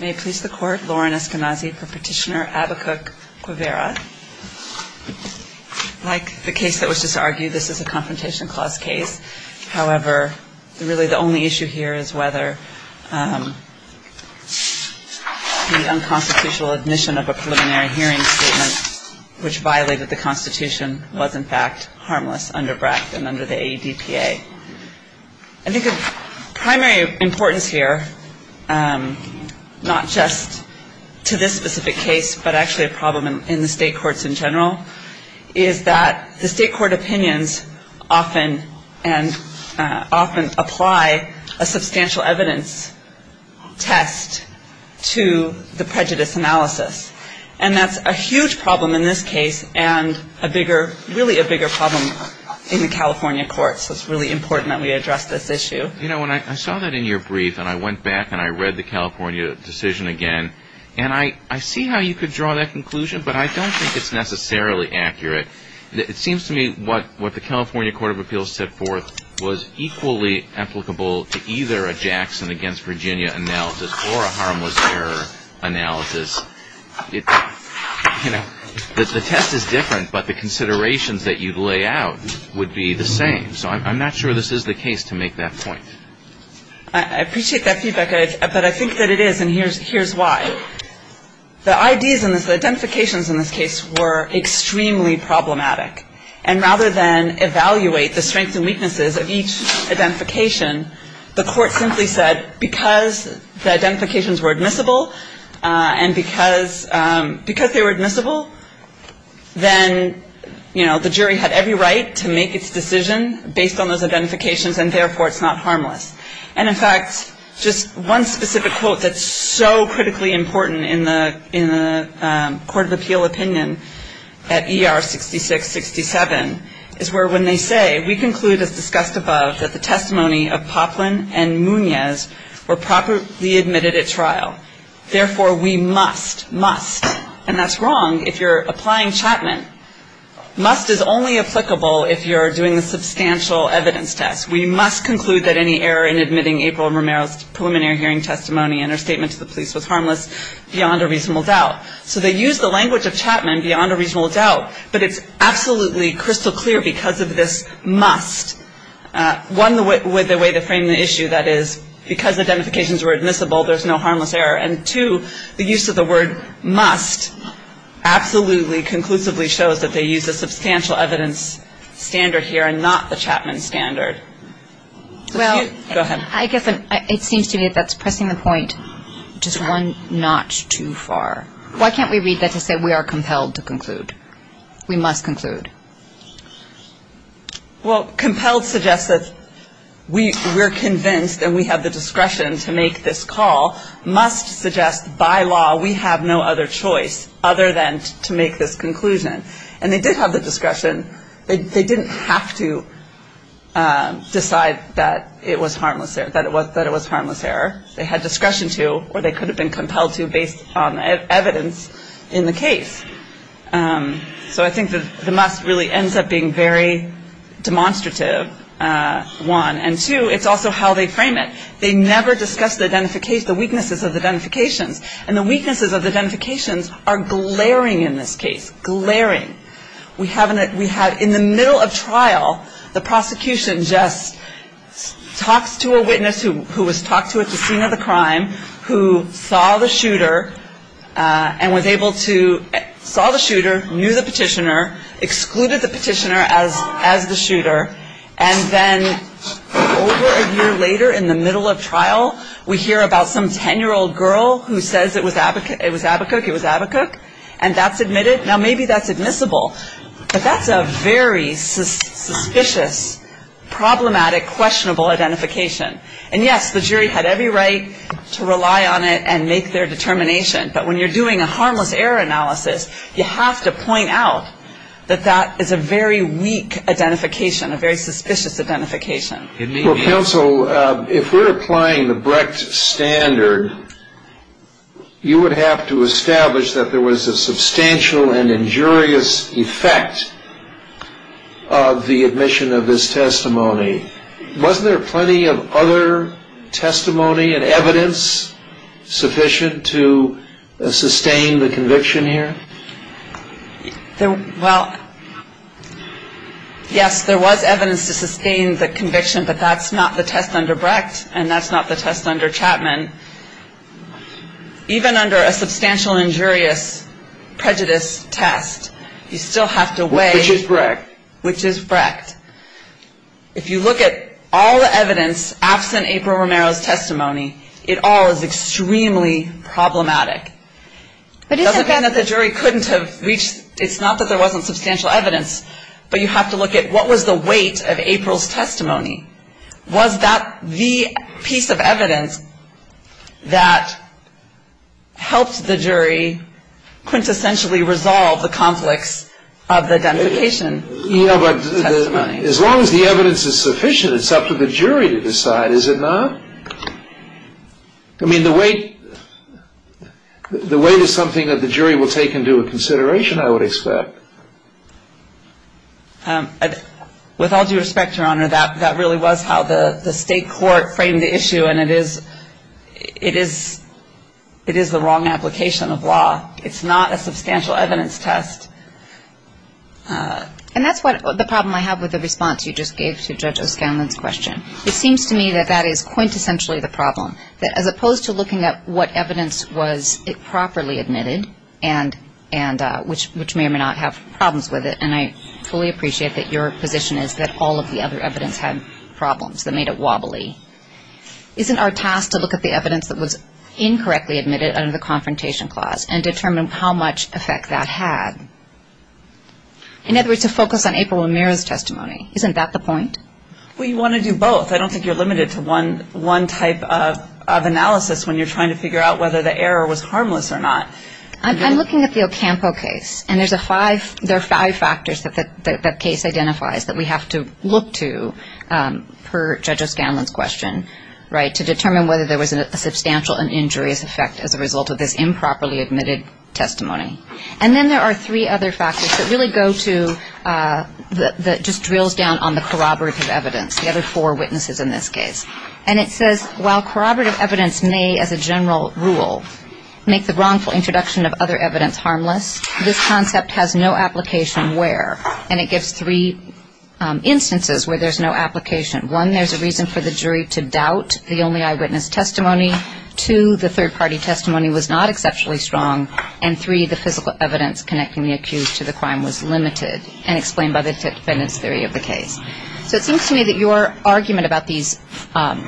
May it please the court, Lauren Eskenazi for Petitioner Abacuc Guevara. Like the case that was just argued, this is a Confrontation Clause case. However, really the only issue here is whether the unconstitutional admission of a preliminary hearing statement which violated the Constitution was in fact harmless under BRAC and under the AEDPA. I think of primary importance here, not just to this specific case but actually a problem in the state courts in general, is that the state court opinions often and often apply a substantial evidence test to the prejudice analysis. And that's a huge problem in this case and a bigger, really a bigger problem in the California courts. It's really important that we address this issue. You know, when I saw that in your brief and I went back and I read the California decision again and I see how you could draw that conclusion but I don't think it's necessarily accurate. It seems to me what the California Court of Appeals set forth was equally applicable to either a Jackson against Virginia analysis or a harmless error analysis. You know, the test is different but the considerations that you lay out would be the same. So I'm not sure this is the case to make that point. I appreciate that feedback, but I think that it is and here's why. The ideas in this, the identifications in this case were extremely problematic. And rather than evaluate the strengths and weaknesses of each identification, the court simply said because the identifications were admissible and because they were admissible, then, you know, the jury had every right to make its decision based on those identifications and therefore it's not harmless. And in fact, just one specific quote that's so critically important in the Court of Appeal opinion at ER6667 is where when they say, we conclude as discussed above that the testimony of Poplin and Munez were properly admitted at trial. Therefore, we must, must, and that's wrong if you're applying Chapman. Must is only applicable if you're doing a substantial evidence test. We must conclude that any error in admitting April Romero's preliminary hearing testimony and her statement to the police was harmless beyond a reasonable doubt. So they used the language of Chapman beyond a reasonable doubt, but it's absolutely crystal clear because of this must. One, with the way they framed the issue, that is, because the identifications were admissible, there's no harmless error. And two, the use of the word must absolutely conclusively shows that they used a substantial evidence standard here and not the Chapman standard. Go ahead. Well, I guess it seems to me that's pressing the point just one notch too far. Why can't we read that to say we are compelled to conclude? We must conclude. Well, compelled suggests that we're convinced and we have the discretion to make this call. Must suggests by law we have no other choice other than to make this conclusion. And they did have the discretion. They didn't have to decide that it was harmless, that it was harmless error. They had discretion to or they could have been compelled to based on really ends up being very demonstrative, one. And two, it's also how they frame it. They never discussed the weaknesses of the identifications. And the weaknesses of the identifications are glaring in this case, glaring. We have in the middle of trial the prosecution just talks to a witness who was talked to at the scene of the crime, who saw the shooter, and was able to saw the shooter, knew the petitioner, excluded the petitioner as the shooter. And then over a year later in the middle of trial, we hear about some 10-year-old girl who says it was Abacook, it was Abacook. And that's admitted. Now, maybe that's admissible. But that's a very suspicious, problematic, questionable identification. And yes, the jury had every right to rely on it and make their determination. But when you're doing a harmless error analysis, you have to point out that that is a very weak identification, a very suspicious identification. Well, counsel, if we're applying the Brecht standard, you would have to establish that there was a substantial and injurious effect of the admission of this testimony. Wasn't there plenty of other testimony and evidence sufficient to sustain the conviction here? Well, yes, there was evidence to sustain the conviction, but that's not the test under Brecht and that's not the test under Chapman. Even under a substantial injurious prejudice test, you still have to weigh which is Brecht. If you look at all the evidence absent April Romero's testimony, it all is extremely problematic. It doesn't mean that the jury couldn't have reached, it's not that there wasn't substantial evidence, but you have to look at what was the weight of April's testimony. Was that the piece of evidence that helped the jury quintessentially resolve the conflicts of identification? As long as the evidence is sufficient, it's up to the jury to decide, is it not? I mean, the weight is something that the jury will take into consideration, I would expect. With all due respect, Your Honor, that really was how the state court framed the issue, and it is the wrong application of law. It's not a substantial evidence test. And that's the problem I have with the response you just gave to Judge O'Scanlan's question. It seems to me that that is quintessentially the problem, that as opposed to looking at what evidence was properly admitted and which may or may not have problems with it, and I fully appreciate that your position is that all of the other evidence had problems that made it wobbly. Isn't our task to look at the evidence that was incorrectly admitted under the Confrontation Clause and determine how much effect that had? In other words, to focus on April O'Meara's testimony. Isn't that the point? Well, you want to do both. I don't think you're limited to one type of analysis when you're trying to figure out whether the error was harmless or not. I'm looking at the Ocampo case, and there are five factors that the case identifies that we have to look to per Judge O'Scanlan's question, right, to determine whether there was a substantial and injurious effect as a result of this improperly admitted testimony. And then there are three other factors that really go to, that just drills down on the corroborative evidence, the other four witnesses in this case. And it says, while corroborative evidence may, as a general rule, make the wrongful introduction of other evidence harmless, this concept has no application where, and it gives three instances where there's no application. One, there's a reason for the jury to doubt the only eyewitness testimony. Two, the third-party testimony was not exceptionally strong. And three, the physical evidence connecting the accused to the crime was limited and explained by the defendant's theory of the case. So it seems to me that your argument about these,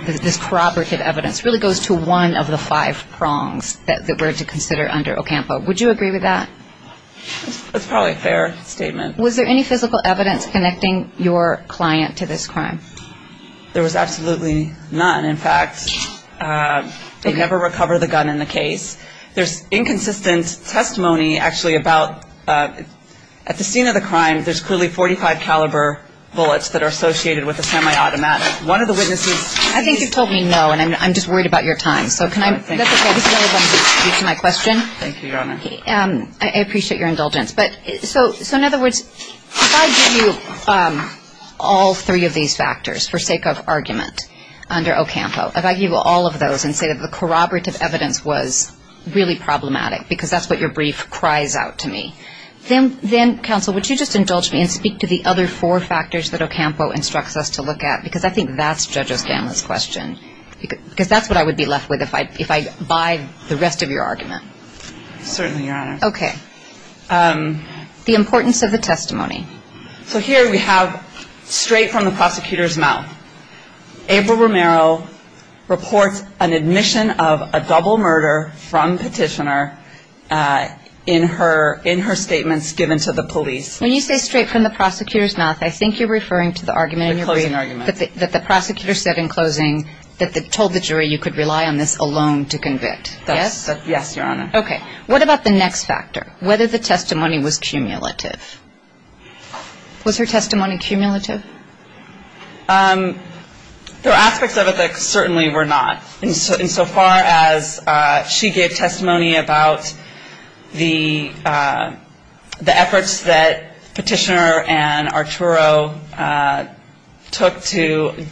this corroborative evidence, really goes to one of the five prongs that we're to consider under Ocampo. Would you agree with that? That's probably a fair statement. Was there any physical evidence connecting your client to this crime? There was absolutely none. In fact, they never recover the gun in the case. There's inconsistent testimony actually about, at the scene of the crime, there's clearly .45 caliber bullets that are associated with a semi-automatic. One of the witnesses I think you told me no, and I'm just worried about your time. So can I That's okay. This is all I wanted to do, to answer my question. Thank you, Your Honor. I appreciate your indulgence. So in other words, if I give you all three of these factors for sake of argument under Ocampo, if I give you all of those and say that the corroborative evidence was really problematic, because that's what your brief cries out to me, then, Counsel, would you just indulge me and speak to the other four factors that Ocampo instructs us to look at? Because I think that's Judge O'Scanlan's question. Because that's what I would be left with if I buy the rest of your argument. Certainly, Your Honor. Okay. The importance of the testimony. So here we have straight from the prosecutor's mouth. April Romero reports an admission of a double murder from Petitioner in her statements given to the police. When you say straight from the prosecutor's mouth, I think you're referring to the argument in your brief. The closing argument. That the prosecutor said in closing that they told the jury you could rely on this alone to convict. Yes? Yes, Your Honor. Okay. What about the next factor? Whether the testimony was cumulative? Was her testimony cumulative? There are aspects of it that certainly were not. In so far as she gave testimony about the efforts that Petitioner and Arturo took to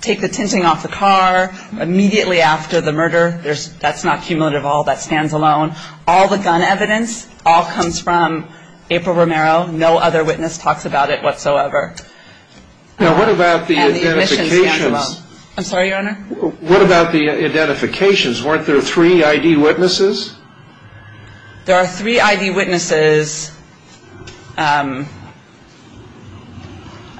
take the tinting off the car immediately after the murder, that's not cumulative at all. That stands alone. All the gun evidence all comes from April Romero. No other witness talks about it whatsoever. Now, what about the identifications? And the admission stands alone. I'm sorry, Your Honor? What about the identifications? Weren't there three I.D. witnesses? There are three I.D. witnesses. I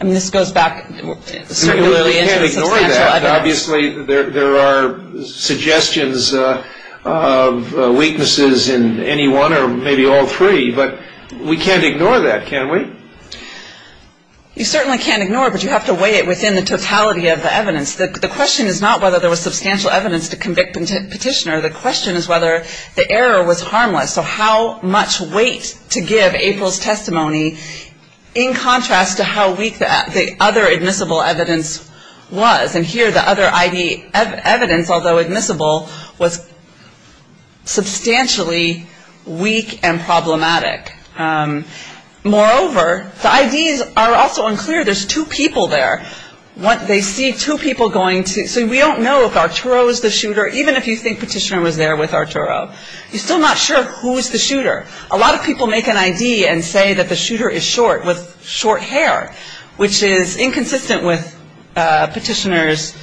mean, this goes back to the significance of the substantial evidence. But obviously there are suggestions of weaknesses in any one or maybe all three. But we can't ignore that, can we? You certainly can't ignore it, but you have to weigh it within the totality of the evidence. The question is not whether there was substantial evidence to convict Petitioner. The question is whether the error was harmless. So how much weight to give April's testimony in contrast to how weak the other admissible evidence was? And here the other I.D. evidence, although admissible, was substantially weak and problematic. Moreover, the I.D.s are also unclear. There's two people there. They see two people going to so we don't know if Arturo is the shooter, even if you think Petitioner was there with Arturo. You're still not sure who is the shooter. A lot of people make an I.D. and say that the shooter is short, with short hair, which is inconsistent with Petitioner's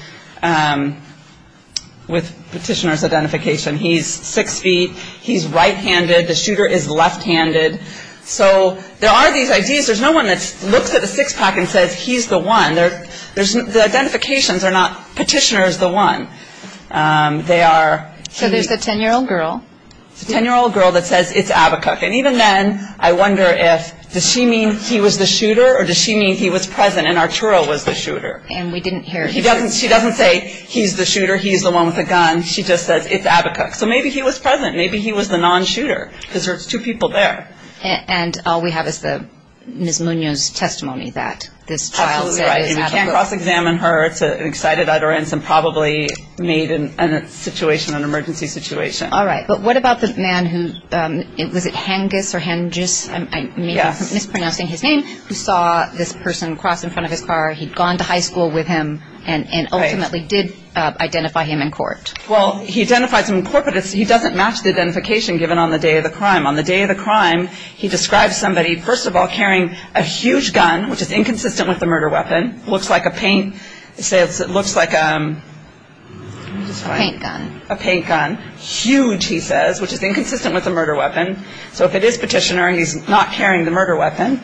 identification. He's six feet. He's right-handed. The shooter is left-handed. So there are these I.D.s. There's no one that looks at the six-pack and says he's the one. The identifications are not Petitioner is the one. They are the ten-year-old girl that says it's Abacook. And even then, I wonder if, does she mean he was the shooter or does she mean he was present and Arturo was the shooter? And we didn't hear. She doesn't say he's the shooter, he's the one with the gun. She just says it's Abacook. So maybe he was present. Maybe he was the non-shooter. Because there's two people there. And all we have is Ms. Munoz's testimony that this child is Abacook. Absolutely right. And you can't cross-examine her. It's an excited utterance and probably made an emergency situation. All right. But what about the man who, was it Hengis or Hengis, I'm mispronouncing his name, who saw this person cross in front of his car. He'd gone to high school with him and ultimately did identify him in court. Well, he identified him in court, but he doesn't match the identification given on the day of the crime. On the day of the crime, he describes somebody, first of all, carrying a huge gun, which is inconsistent with the murder weapon, looks like a paint, looks like a... A paint gun. A paint gun. Huge, he says, which is inconsistent with the murder weapon. So if it is Petitioner, he's not carrying the murder weapon.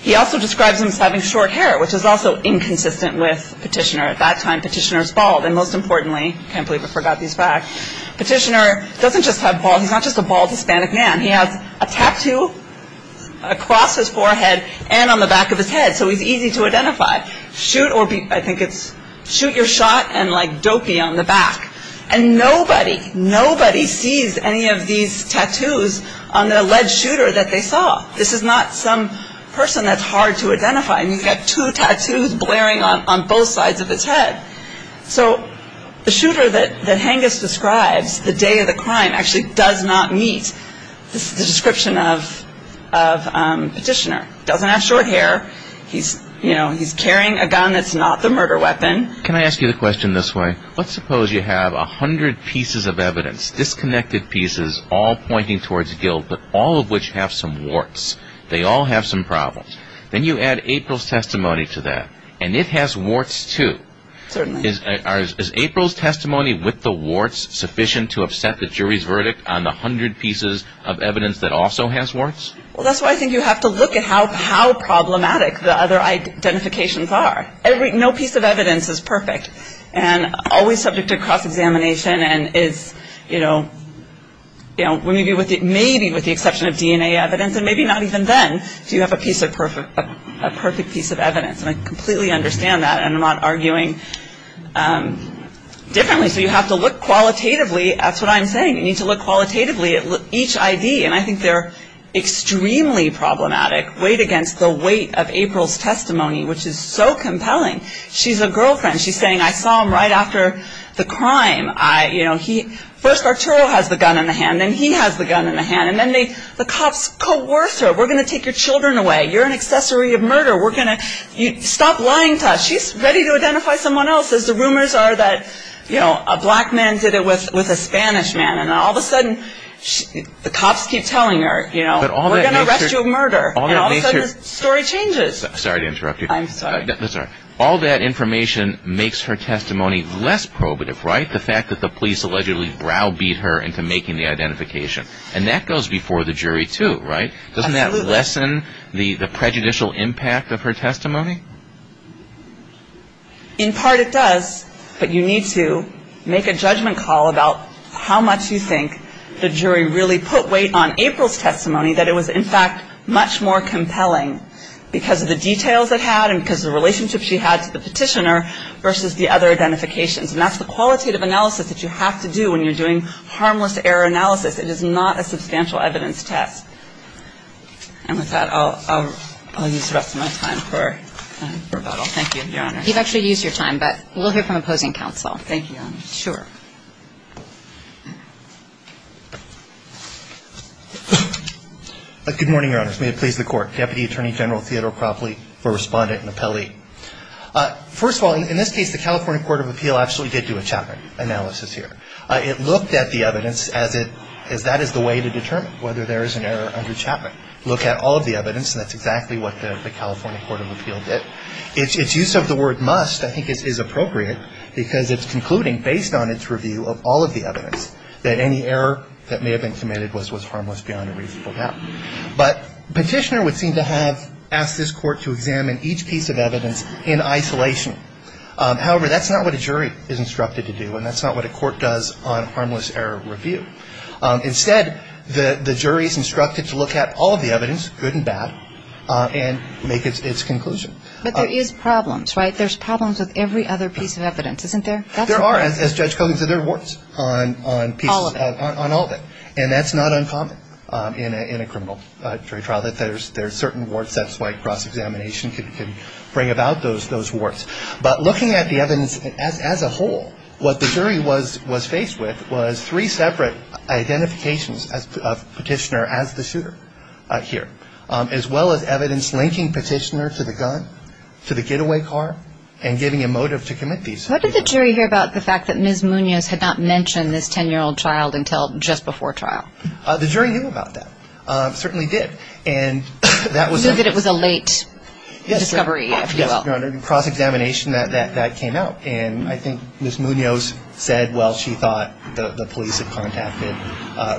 He also describes him as having short hair, which is also inconsistent with Petitioner. At that time, Petitioner was bald. And most importantly, I can't believe I forgot these facts, Petitioner doesn't just have bald, he's not just a bald Hispanic man. He has a tattoo across his forehead and on the back of his head. So he's easy to identify. Shoot or be, I think it's, shoot your shot and like dopey on the back. And nobody, nobody sees any of these tattoos on the alleged shooter that they saw. This is not some person that's hard to identify. And he's got two tattoos blaring on both sides of his head. So the shooter that Hengist describes, the day of the crime, actually does not meet the description of Petitioner. He doesn't have short hair. He's, you know, he's carrying a gun that's not the murder weapon. Can I ask you a question this way? Let's suppose you have a hundred pieces of evidence, disconnected pieces, all pointing towards guilt, but all of which have some warts. They all have some problems. Then you add April's testimony to that. And it has warts too. Certainly. Is April's testimony with the warts sufficient to upset the jury's verdict on the hundred pieces of evidence that also has warts? Well, that's why I think you have to look at how problematic the other identifications are. Every, no piece of evidence is perfect. And always subject to cross-examination and is, you know, you know, maybe with the exception of DNA evidence. And maybe not even then do you have a piece of perfect, a perfect piece of evidence. And I completely understand that. And I'm not arguing differently. So you have to look qualitatively. That's what I'm saying. You need to look qualitatively at each ID. And I think they're extremely problematic weighed against the weight of April's testimony, which is so compelling. She's a girlfriend. She's saying, I saw him right after the crime. I, you know, he, first Arturo has the gun in the hand. Then he has the gun in the hand. And then they, the cops coerce her. We're going to take your children away. You're an accessory of murder. We're going to, you, stop lying to us. She's ready to identify someone else. As the rumors are that, you know, a black man did it with a Spanish man. And all of a sudden, the cops keep telling her, you know, we're going to arrest you for murder. And all of a sudden the story changes. Sorry to interrupt you. I'm sorry. That's all right. All that information makes her testimony less probative, right? The fact that the police allegedly browbeat her into making the identification. And that goes before the jury too, right? Absolutely. Doesn't that lessen the prejudicial impact of her testimony? In part, it does. But you need to make a judgment call about how much you think the jury really put weight on April's testimony. That it was, in fact, much more compelling because of the details it had and because of the relationship she had to the petitioner versus the other identifications. And that's the qualitative analysis that you have to do when you're doing harmless error analysis. It is not a substantial evidence test. And with that, I'll use the rest of my time for rebuttal. Thank you, Your Honor. You've actually used your time, but we'll hear from opposing counsel. Thank you, Your Honor. Sure. Good morning, Your Honors. May it please the Court. Deputy Attorney General Theodore Cropley for Respondent and Appellee. First of all, in this case, the California Court of Appeal actually did do a chapter analysis here. It looked at the evidence as that is the way to determine whether there is an error under Chapman. Look at all of the evidence, and that's exactly what the California Court of Appeal did. Its use of the word must, I think, is appropriate because it's concluding, based on its review of all of the evidence, that any error that may have been committed was harmless beyond a reasonable doubt. But the petitioner would seem to have asked this Court to examine each piece of evidence in isolation. However, that's not what a jury is instructed to do, and that's not what a jury is instructed to look at all of the evidence, good and bad, and make its conclusion. But there is problems, right? There's problems with every other piece of evidence, isn't there? There are, as Judge Kogan said. There are warts on pieces. All of it. On all of it. And that's not uncommon in a criminal jury trial, that there's certain warts. That's why cross-examination can bring about those warts. But looking at the evidence as a whole, what the jury was faced with was three separate identifications of petitioner as the shooter here, as well as evidence linking petitioner to the gun, to the getaway car, and giving a motive to commit these. What did the jury hear about the fact that Ms. Munoz had not mentioned this 10-year-old child until just before trial? The jury knew about that. Certainly did. And that was... Knew that it was a late discovery, if you will. Yes, Your Honor. And cross-examination, that came out. And I think Ms. Munoz said, well, she thought the police had contacted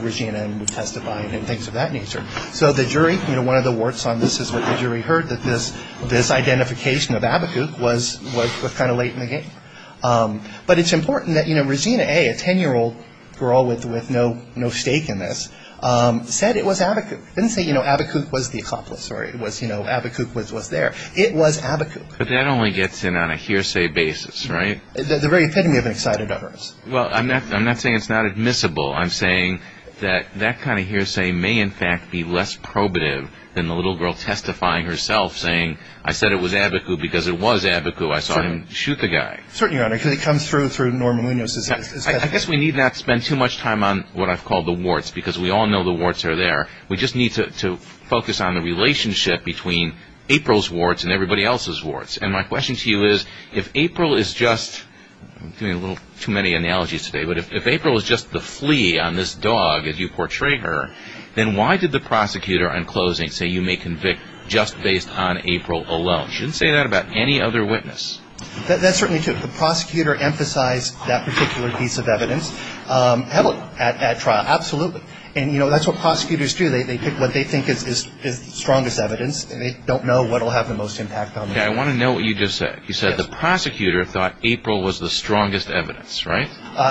Regina and would testify and things of that nature. So the jury, you know, one of the warts on this is what the jury heard, that this identification of Abacook was kind of late in the game. But it's important that, you know, Regina A., a 10-year-old girl with no stake in this, said it was Abacook. Didn't say, you know, Abacook was the accomplice or it was, you know, Abacook was there. It was Abacook. But that only gets in on a hearsay basis, right? The very epitome of excited others. Well, I'm not saying it's not admissible. I'm saying that that kind of hearsay may, in fact, be less probative than the little girl testifying herself, saying, I said it was Abacook because it was Abacook. I saw him shoot the guy. Certainly, Your Honor, because it comes through through Norma Munoz's testimony. I guess we need not spend too much time on what I've called the warts, because we all know the warts are there. We just need to focus on the relationship between April's warts and everybody else's warts. And my question to you is, if April is just, I'm doing a little too many analogies today, but if April is just the flea on this dog as you portray her, then why did the prosecutor on closing say you may convict just based on April alone? You shouldn't say that about any other witness. That's certainly true. The prosecutor emphasized that particular piece of evidence at trial. Absolutely. And, you know, that's what prosecutors do. They pick what they think is the strongest evidence. They don't know what will have the most impact on them. Yeah, I want to know what you just said. You said the prosecutor thought April was the strongest evidence, right?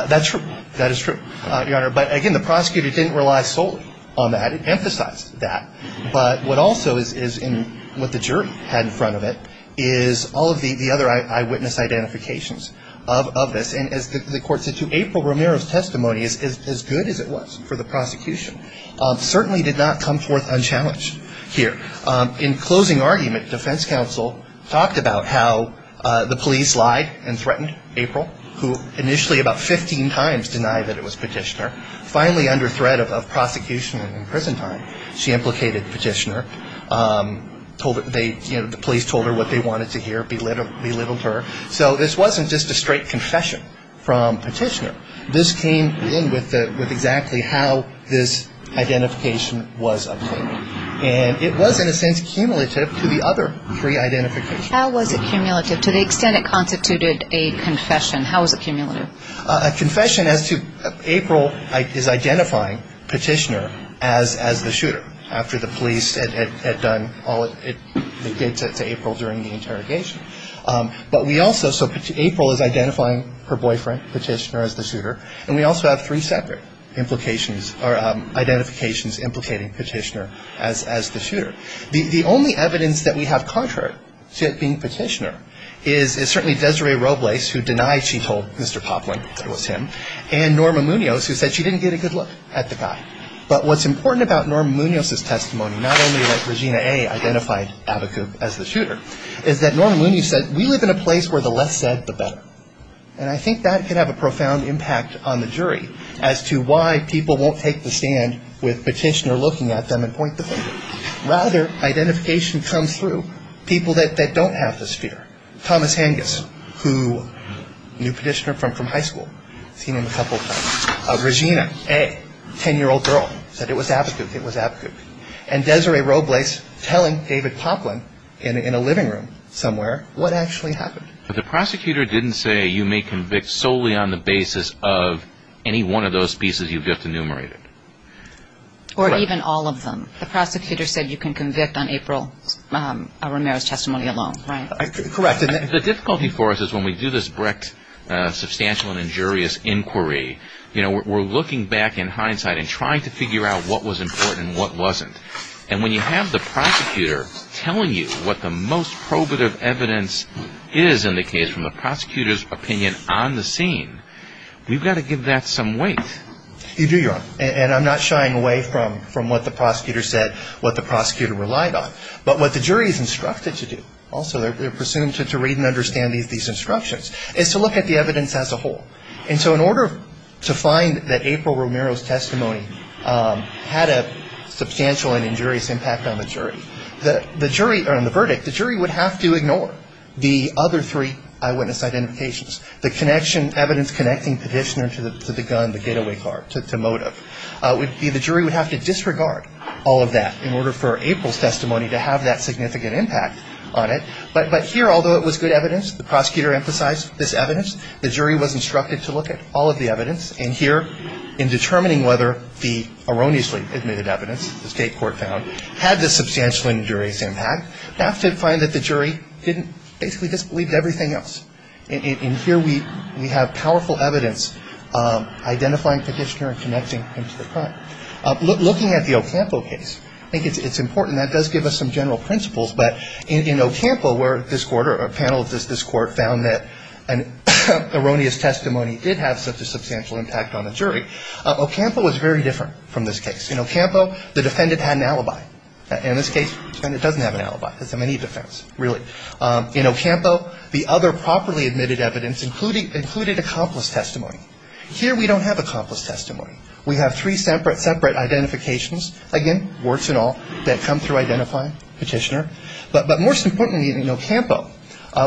That's true. That is true, Your Honor. But, again, the prosecutor didn't rely solely on that. It emphasized that. But what also is in what the jury had in front of it is all of the other eyewitness identifications of this. And as the court said too, April Romero's testimony is as good as it was for the prosecution. Certainly did not come forth unchallenged here. In closing argument, defense counsel talked about how the police lied and threatened April, who initially about 15 times denied that it was Petitioner. Finally, under threat of prosecution and in prison time, she implicated Petitioner. The police told her what they wanted to hear, belittled her. So this wasn't just a straight confession from Petitioner. This came in with exactly how this identification was obtained. And it was, in a sense, cumulative to the other pre-identifications. How was it cumulative to the extent it constituted a confession? How was it cumulative? A confession as to April is identifying Petitioner as the shooter, after the police had done all it did to April during the interrogation. So April is identifying her boyfriend, Petitioner, as the shooter. And we also have three separate identifications implicating Petitioner as the shooter. The only evidence that we have contrary to it being Petitioner is certainly Desiree Robles, who denied she told Mr. Poplin that it was him, and Norma Munoz, who said she didn't get a good look at the guy. But what's important about Norma Munoz's testimony, not only that Regina A. identified Abacook as the shooter, is that Norma Munoz said, we live in a place where the less said, the better. And I think that could have a profound impact on the jury as to why people won't take the stand with Petitioner looking at them and point the finger. Rather, identification comes through people that don't have this fear. Thomas Hanges, who knew Petitioner from high school, seen him a couple of times. Regina A., 10-year-old girl, said it was Abacook, it was Abacook. And Desiree Robles telling David Poplin in a living room somewhere what actually happened. But the prosecutor didn't say you may convict solely on the basis of any one of those pieces you've just enumerated. Or even all of them. The prosecutor said you can convict on April Romero's testimony alone, right? Correct. The difficulty for us is when we do this brick substantial and injurious inquiry, we're looking back in hindsight and trying to figure out what was important and what wasn't. And when you have the prosecutor telling you what the most probative evidence is in the case from the prosecutor's opinion on the scene, we've got to give that some weight. You do, Your Honor. And I'm not shying away from what the prosecutor said, what the prosecutor relied on. But what the jury is instructed to do, also they're presumed to read and understand these instructions, is to look at the evidence as a whole. And so in order to find that April Romero's testimony had a substantial and injurious impact on the jury, on the verdict, the jury would have to ignore the other three eyewitness identifications, the evidence connecting petitioner to the gun, the getaway car, to motive. The jury would have to disregard all of that in order for April's testimony to have that significant impact on it. But here, although it was good evidence, the prosecutor emphasized this evidence, the jury was instructed to look at all of the evidence. And here, in determining whether the erroneously admitted evidence, the state court found, had the substantial and injurious impact, you have to find that the jury didn't, basically disbelieved everything else. And here we have powerful evidence identifying petitioner and connecting him to the crime. Looking at the Ocampo case, I think it's important, that does give us some general principles. But in Ocampo, where this court or a panel of this court found that an erroneous testimony did have such a substantial impact on the jury, Ocampo was very different from this case. In Ocampo, the defendant had an alibi. In this case, the defendant doesn't have an alibi. It's a mini defense, really. In Ocampo, the other properly admitted evidence included accomplice testimony. Here we don't have accomplice testimony. We have three separate identifications, again, warts and all, that come through identifying petitioner. But most importantly in Ocampo,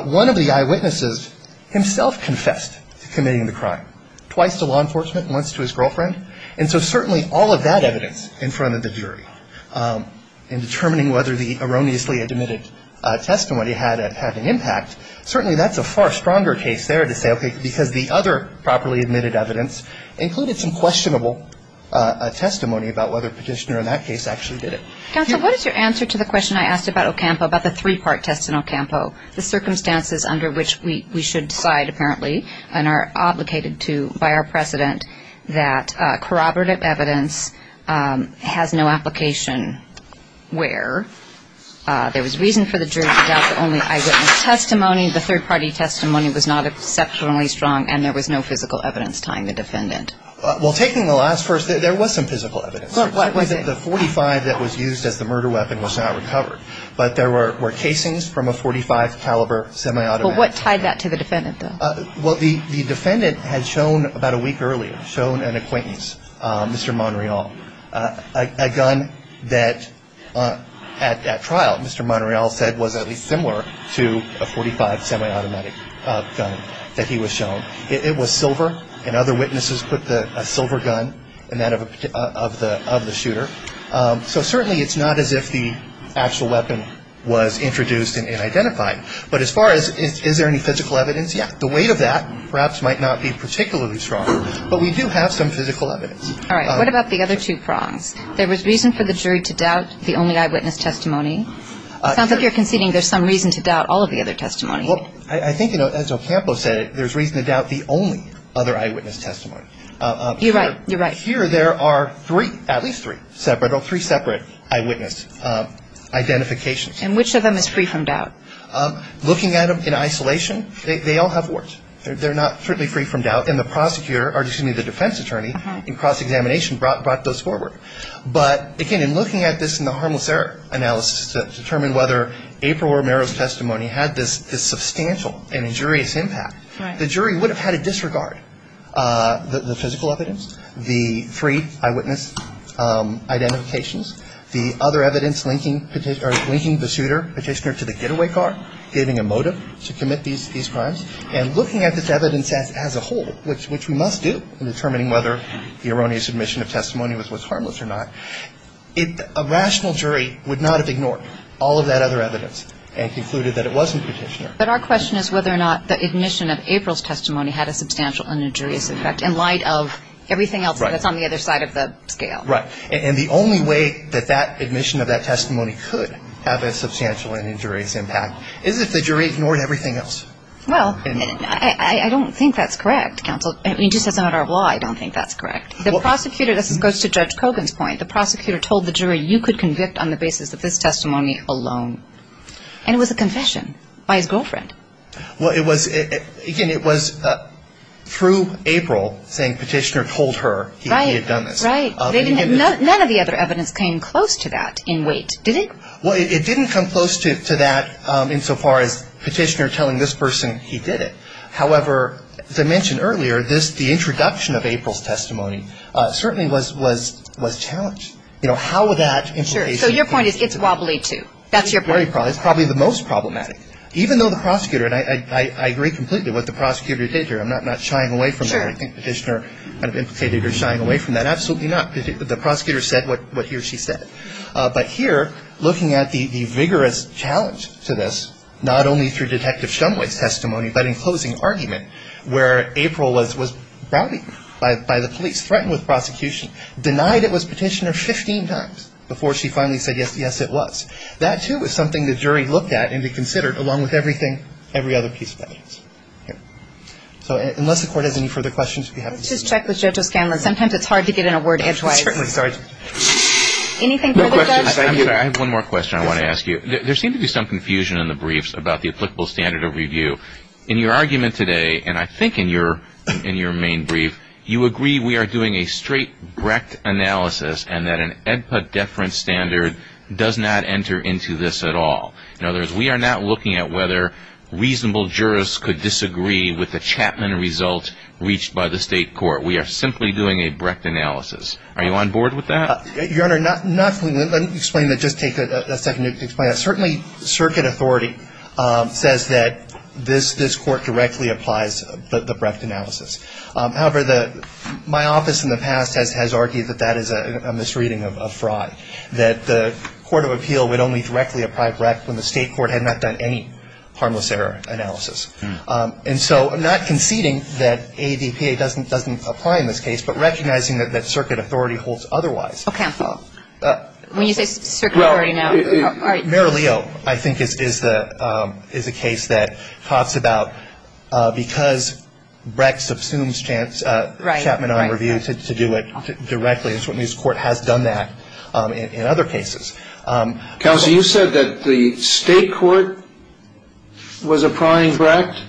one of the eyewitnesses himself confessed to committing the crime, twice to law enforcement and once to his girlfriend. And so certainly all of that evidence in front of the jury in determining whether the erroneously admitted testimony had an impact, certainly that's a far stronger case there to say, okay, because the other properly admitted evidence included some questionable testimony about whether petitioner in that case actually did it. Counsel, what is your answer to the question I asked about Ocampo, about the three-part test in Ocampo, the circumstances under which we should decide, apparently, and are obligated to by our precedent that corroborative evidence has no application, where there was reason for the jury to doubt the only eyewitness testimony, the third-party testimony was not exceptionally strong, and there was no physical evidence tying the defendant? Well, taking the last first, there was some physical evidence. The .45 that was used as the murder weapon was not recovered, but there were casings from a .45 caliber semi-automatic. But what tied that to the defendant, though? Well, the defendant had shown about a week earlier, shown an acquaintance, Mr. Monreal, a gun that at trial, Mr. Monreal said was at least similar to a .45 semi-automatic gun that he was shown. It was silver, and other witnesses put a silver gun in that of the shooter. So certainly it's not as if the actual weapon was introduced and identified. But as far as is there any physical evidence, yeah. The weight of that perhaps might not be particularly strong, but we do have some physical evidence. All right. What about the other two prongs? There was reason for the jury to doubt the only eyewitness testimony. It sounds like you're conceding there's some reason to doubt all of the other testimony. Well, I think, you know, as Ocampo said, there's reason to doubt the only other eyewitness testimony. You're right. You're right. Here there are three, at least three separate, or three separate eyewitness identifications. And which of them is free from doubt? Looking at them in isolation, they all have warts. They're not certainly free from doubt. And the prosecutor, or excuse me, the defense attorney in cross-examination brought those forward. But, again, in looking at this in the harmless error analysis to determine whether April Romero's testimony had this substantial and injurious impact, the jury would have had to disregard the physical evidence, the three eyewitness identifications, the other evidence linking the suitor, petitioner to the getaway car, giving a motive to commit these crimes. And looking at this evidence as a whole, which we must do in determining whether the erroneous submission of testimony was harmless or not, a rational jury would not have ignored all of that other evidence and concluded that it wasn't petitioner. But our question is whether or not the admission of April's testimony had a substantial and injurious effect in light of everything else that's on the other side of the scale. Right. And the only way that that admission of that testimony could have a substantial and injurious impact is if the jury ignored everything else. Well, I don't think that's correct, counsel. I mean, just as a matter of law, I don't think that's correct. The prosecutor, this goes to Judge Kogan's point, the prosecutor told the jury, you could convict on the basis of this testimony alone. And it was a confession by his girlfriend. Well, it was, again, it was through April saying petitioner told her he had done this. Right, right. None of the other evidence came close to that in weight, did it? Well, it didn't come close to that insofar as petitioner telling this person he did it. However, as I mentioned earlier, this, the introduction of April's testimony certainly was challenged. You know, how would that implication. Sure. So your point is it's wobbly, too. That's your point. It's probably the most problematic. Even though the prosecutor, and I agree completely with what the prosecutor did here. I'm not shying away from that. I think petitioner kind of implicated her shying away from that. Absolutely not. The prosecutor said what he or she said. But here, looking at the vigorous challenge to this, not only through Detective Shumway's testimony, but in closing argument, where April was browbeaten by the police, threatened with prosecution, denied it was petitioner 15 times before she finally said, yes, yes, it was. That, too, is something the jury looked at and considered along with everything, every other piece of evidence. So unless the Court has any further questions. Let's just check with Judge O'Scanlan. Sometimes it's hard to get in a word edgewise. Certainly. Anything further, Judge? I have one more question I want to ask you. There seems to be some confusion in the briefs about the applicable standard of review. In your argument today, and I think in your main brief, you agree we are doing a straight Brecht analysis and that an EDPA deference standard does not enter into this at all. In other words, we are not looking at whether reasonable jurists could disagree with the Chapman result reached by the state court. We are simply doing a Brecht analysis. Are you on board with that? Your Honor, not completely. Let me explain that. Just take a second to explain that. Certainly, circuit authority says that this court directly applies the Brecht analysis. However, my office in the past has argued that that is a misreading of Frye, that the court of appeal would only directly apply Brecht when the state court had not done any harmless error analysis. And so not conceding that ADPA doesn't apply in this case, but recognizing that circuit authority holds otherwise. Okay. When you say circuit authority now. Mayor Leo, I think, is a case that talks about because Brecht subsumes Chapman on review to do it directly. And certainly this court has done that in other cases. Counsel, you said that the state court was applying Brecht?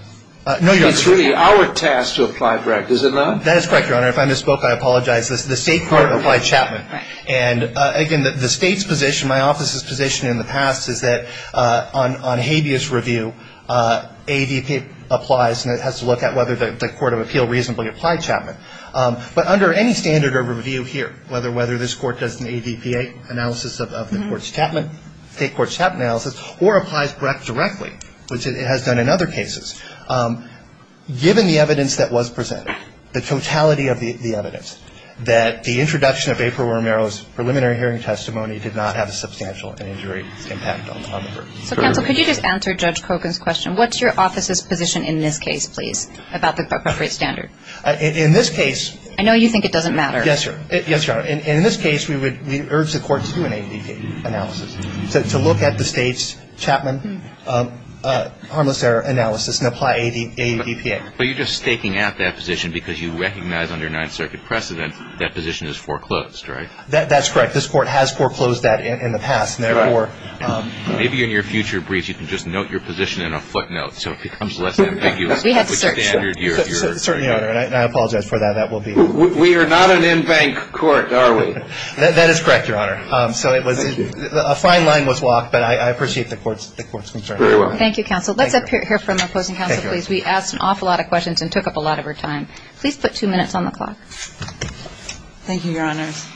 No, Your Honor. It's really our task to apply Brecht, is it not? That is correct, Your Honor. If I misspoke, I apologize. The state court applied Chapman. And again, the state's position, my office's position in the past is that on habeas review, ADPA applies and it has to look at whether the court of appeal reasonably applied Chapman. But under any standard of review here, whether this court does an ADPA analysis of the court's Chapman, state court's Chapman analysis, or applies Brecht directly, which it has done in other cases, given the evidence that was presented, the totality of the evidence, that the introduction of April Romero's preliminary hearing testimony did not have a substantial injury impact on the group. So, Counsel, could you just answer Judge Kogan's question, what's your office's position in this case, please, about the appropriate standard? In this case. I know you think it doesn't matter. Yes, Your Honor. Yes, Your Honor. In this case, we urge the court to do an ADPA analysis, to look at the state's Chapman harmless error analysis, and apply ADPA. But you're just staking out that position because you recognize under Ninth Circuit precedent that position is foreclosed, right? That's correct. This court has foreclosed that in the past. Therefore. Maybe in your future briefs you can just note your position in a footnote so it becomes less ambiguous. We have to search. Certainly, Your Honor. And I apologize for that. That will be. We are not an in-bank court, are we? That is correct, Your Honor. Thank you. A fine line was walked, but I appreciate the court's concern. Very well. Thank you, Counsel. Let's hear from our opposing counsel, please. We asked an awful lot of questions and took up a lot of her time. Please put two minutes on the clock. Thank you, Your Honors.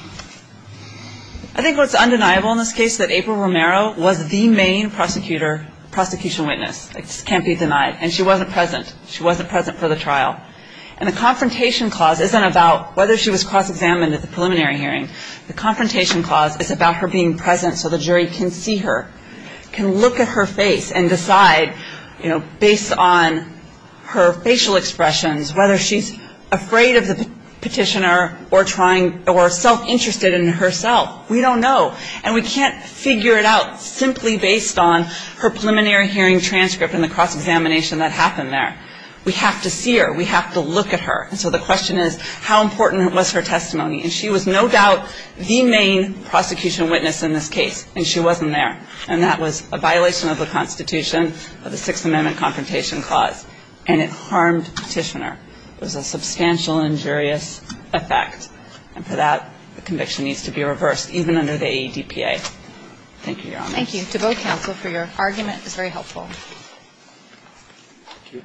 I think what's undeniable in this case is that April Romero was the main prosecutor, prosecution witness. It can't be denied. And she wasn't present. She wasn't present for the trial. And the confrontation clause isn't about whether she was cross-examined at the preliminary hearing. The confrontation clause is about her being present so the jury can see her, can look at her face and decide based on her facial expressions whether she's afraid of the petitioner or trying or self-interested in herself. We don't know. And we can't figure it out simply based on her preliminary hearing transcript and the cross-examination that happened there. We have to see her. We have to look at her. And so the question is how important was her testimony. And she was no doubt the main prosecution witness in this case. And she wasn't there. And that was a violation of the Constitution of the Sixth Amendment Confrontation Clause. And it harmed Petitioner. It was a substantial injurious effect. And for that, the conviction needs to be reversed even under the AEDPA. Thank you, Your Honors. Thank you to both counsel for your argument. It was very helpful. Thank you.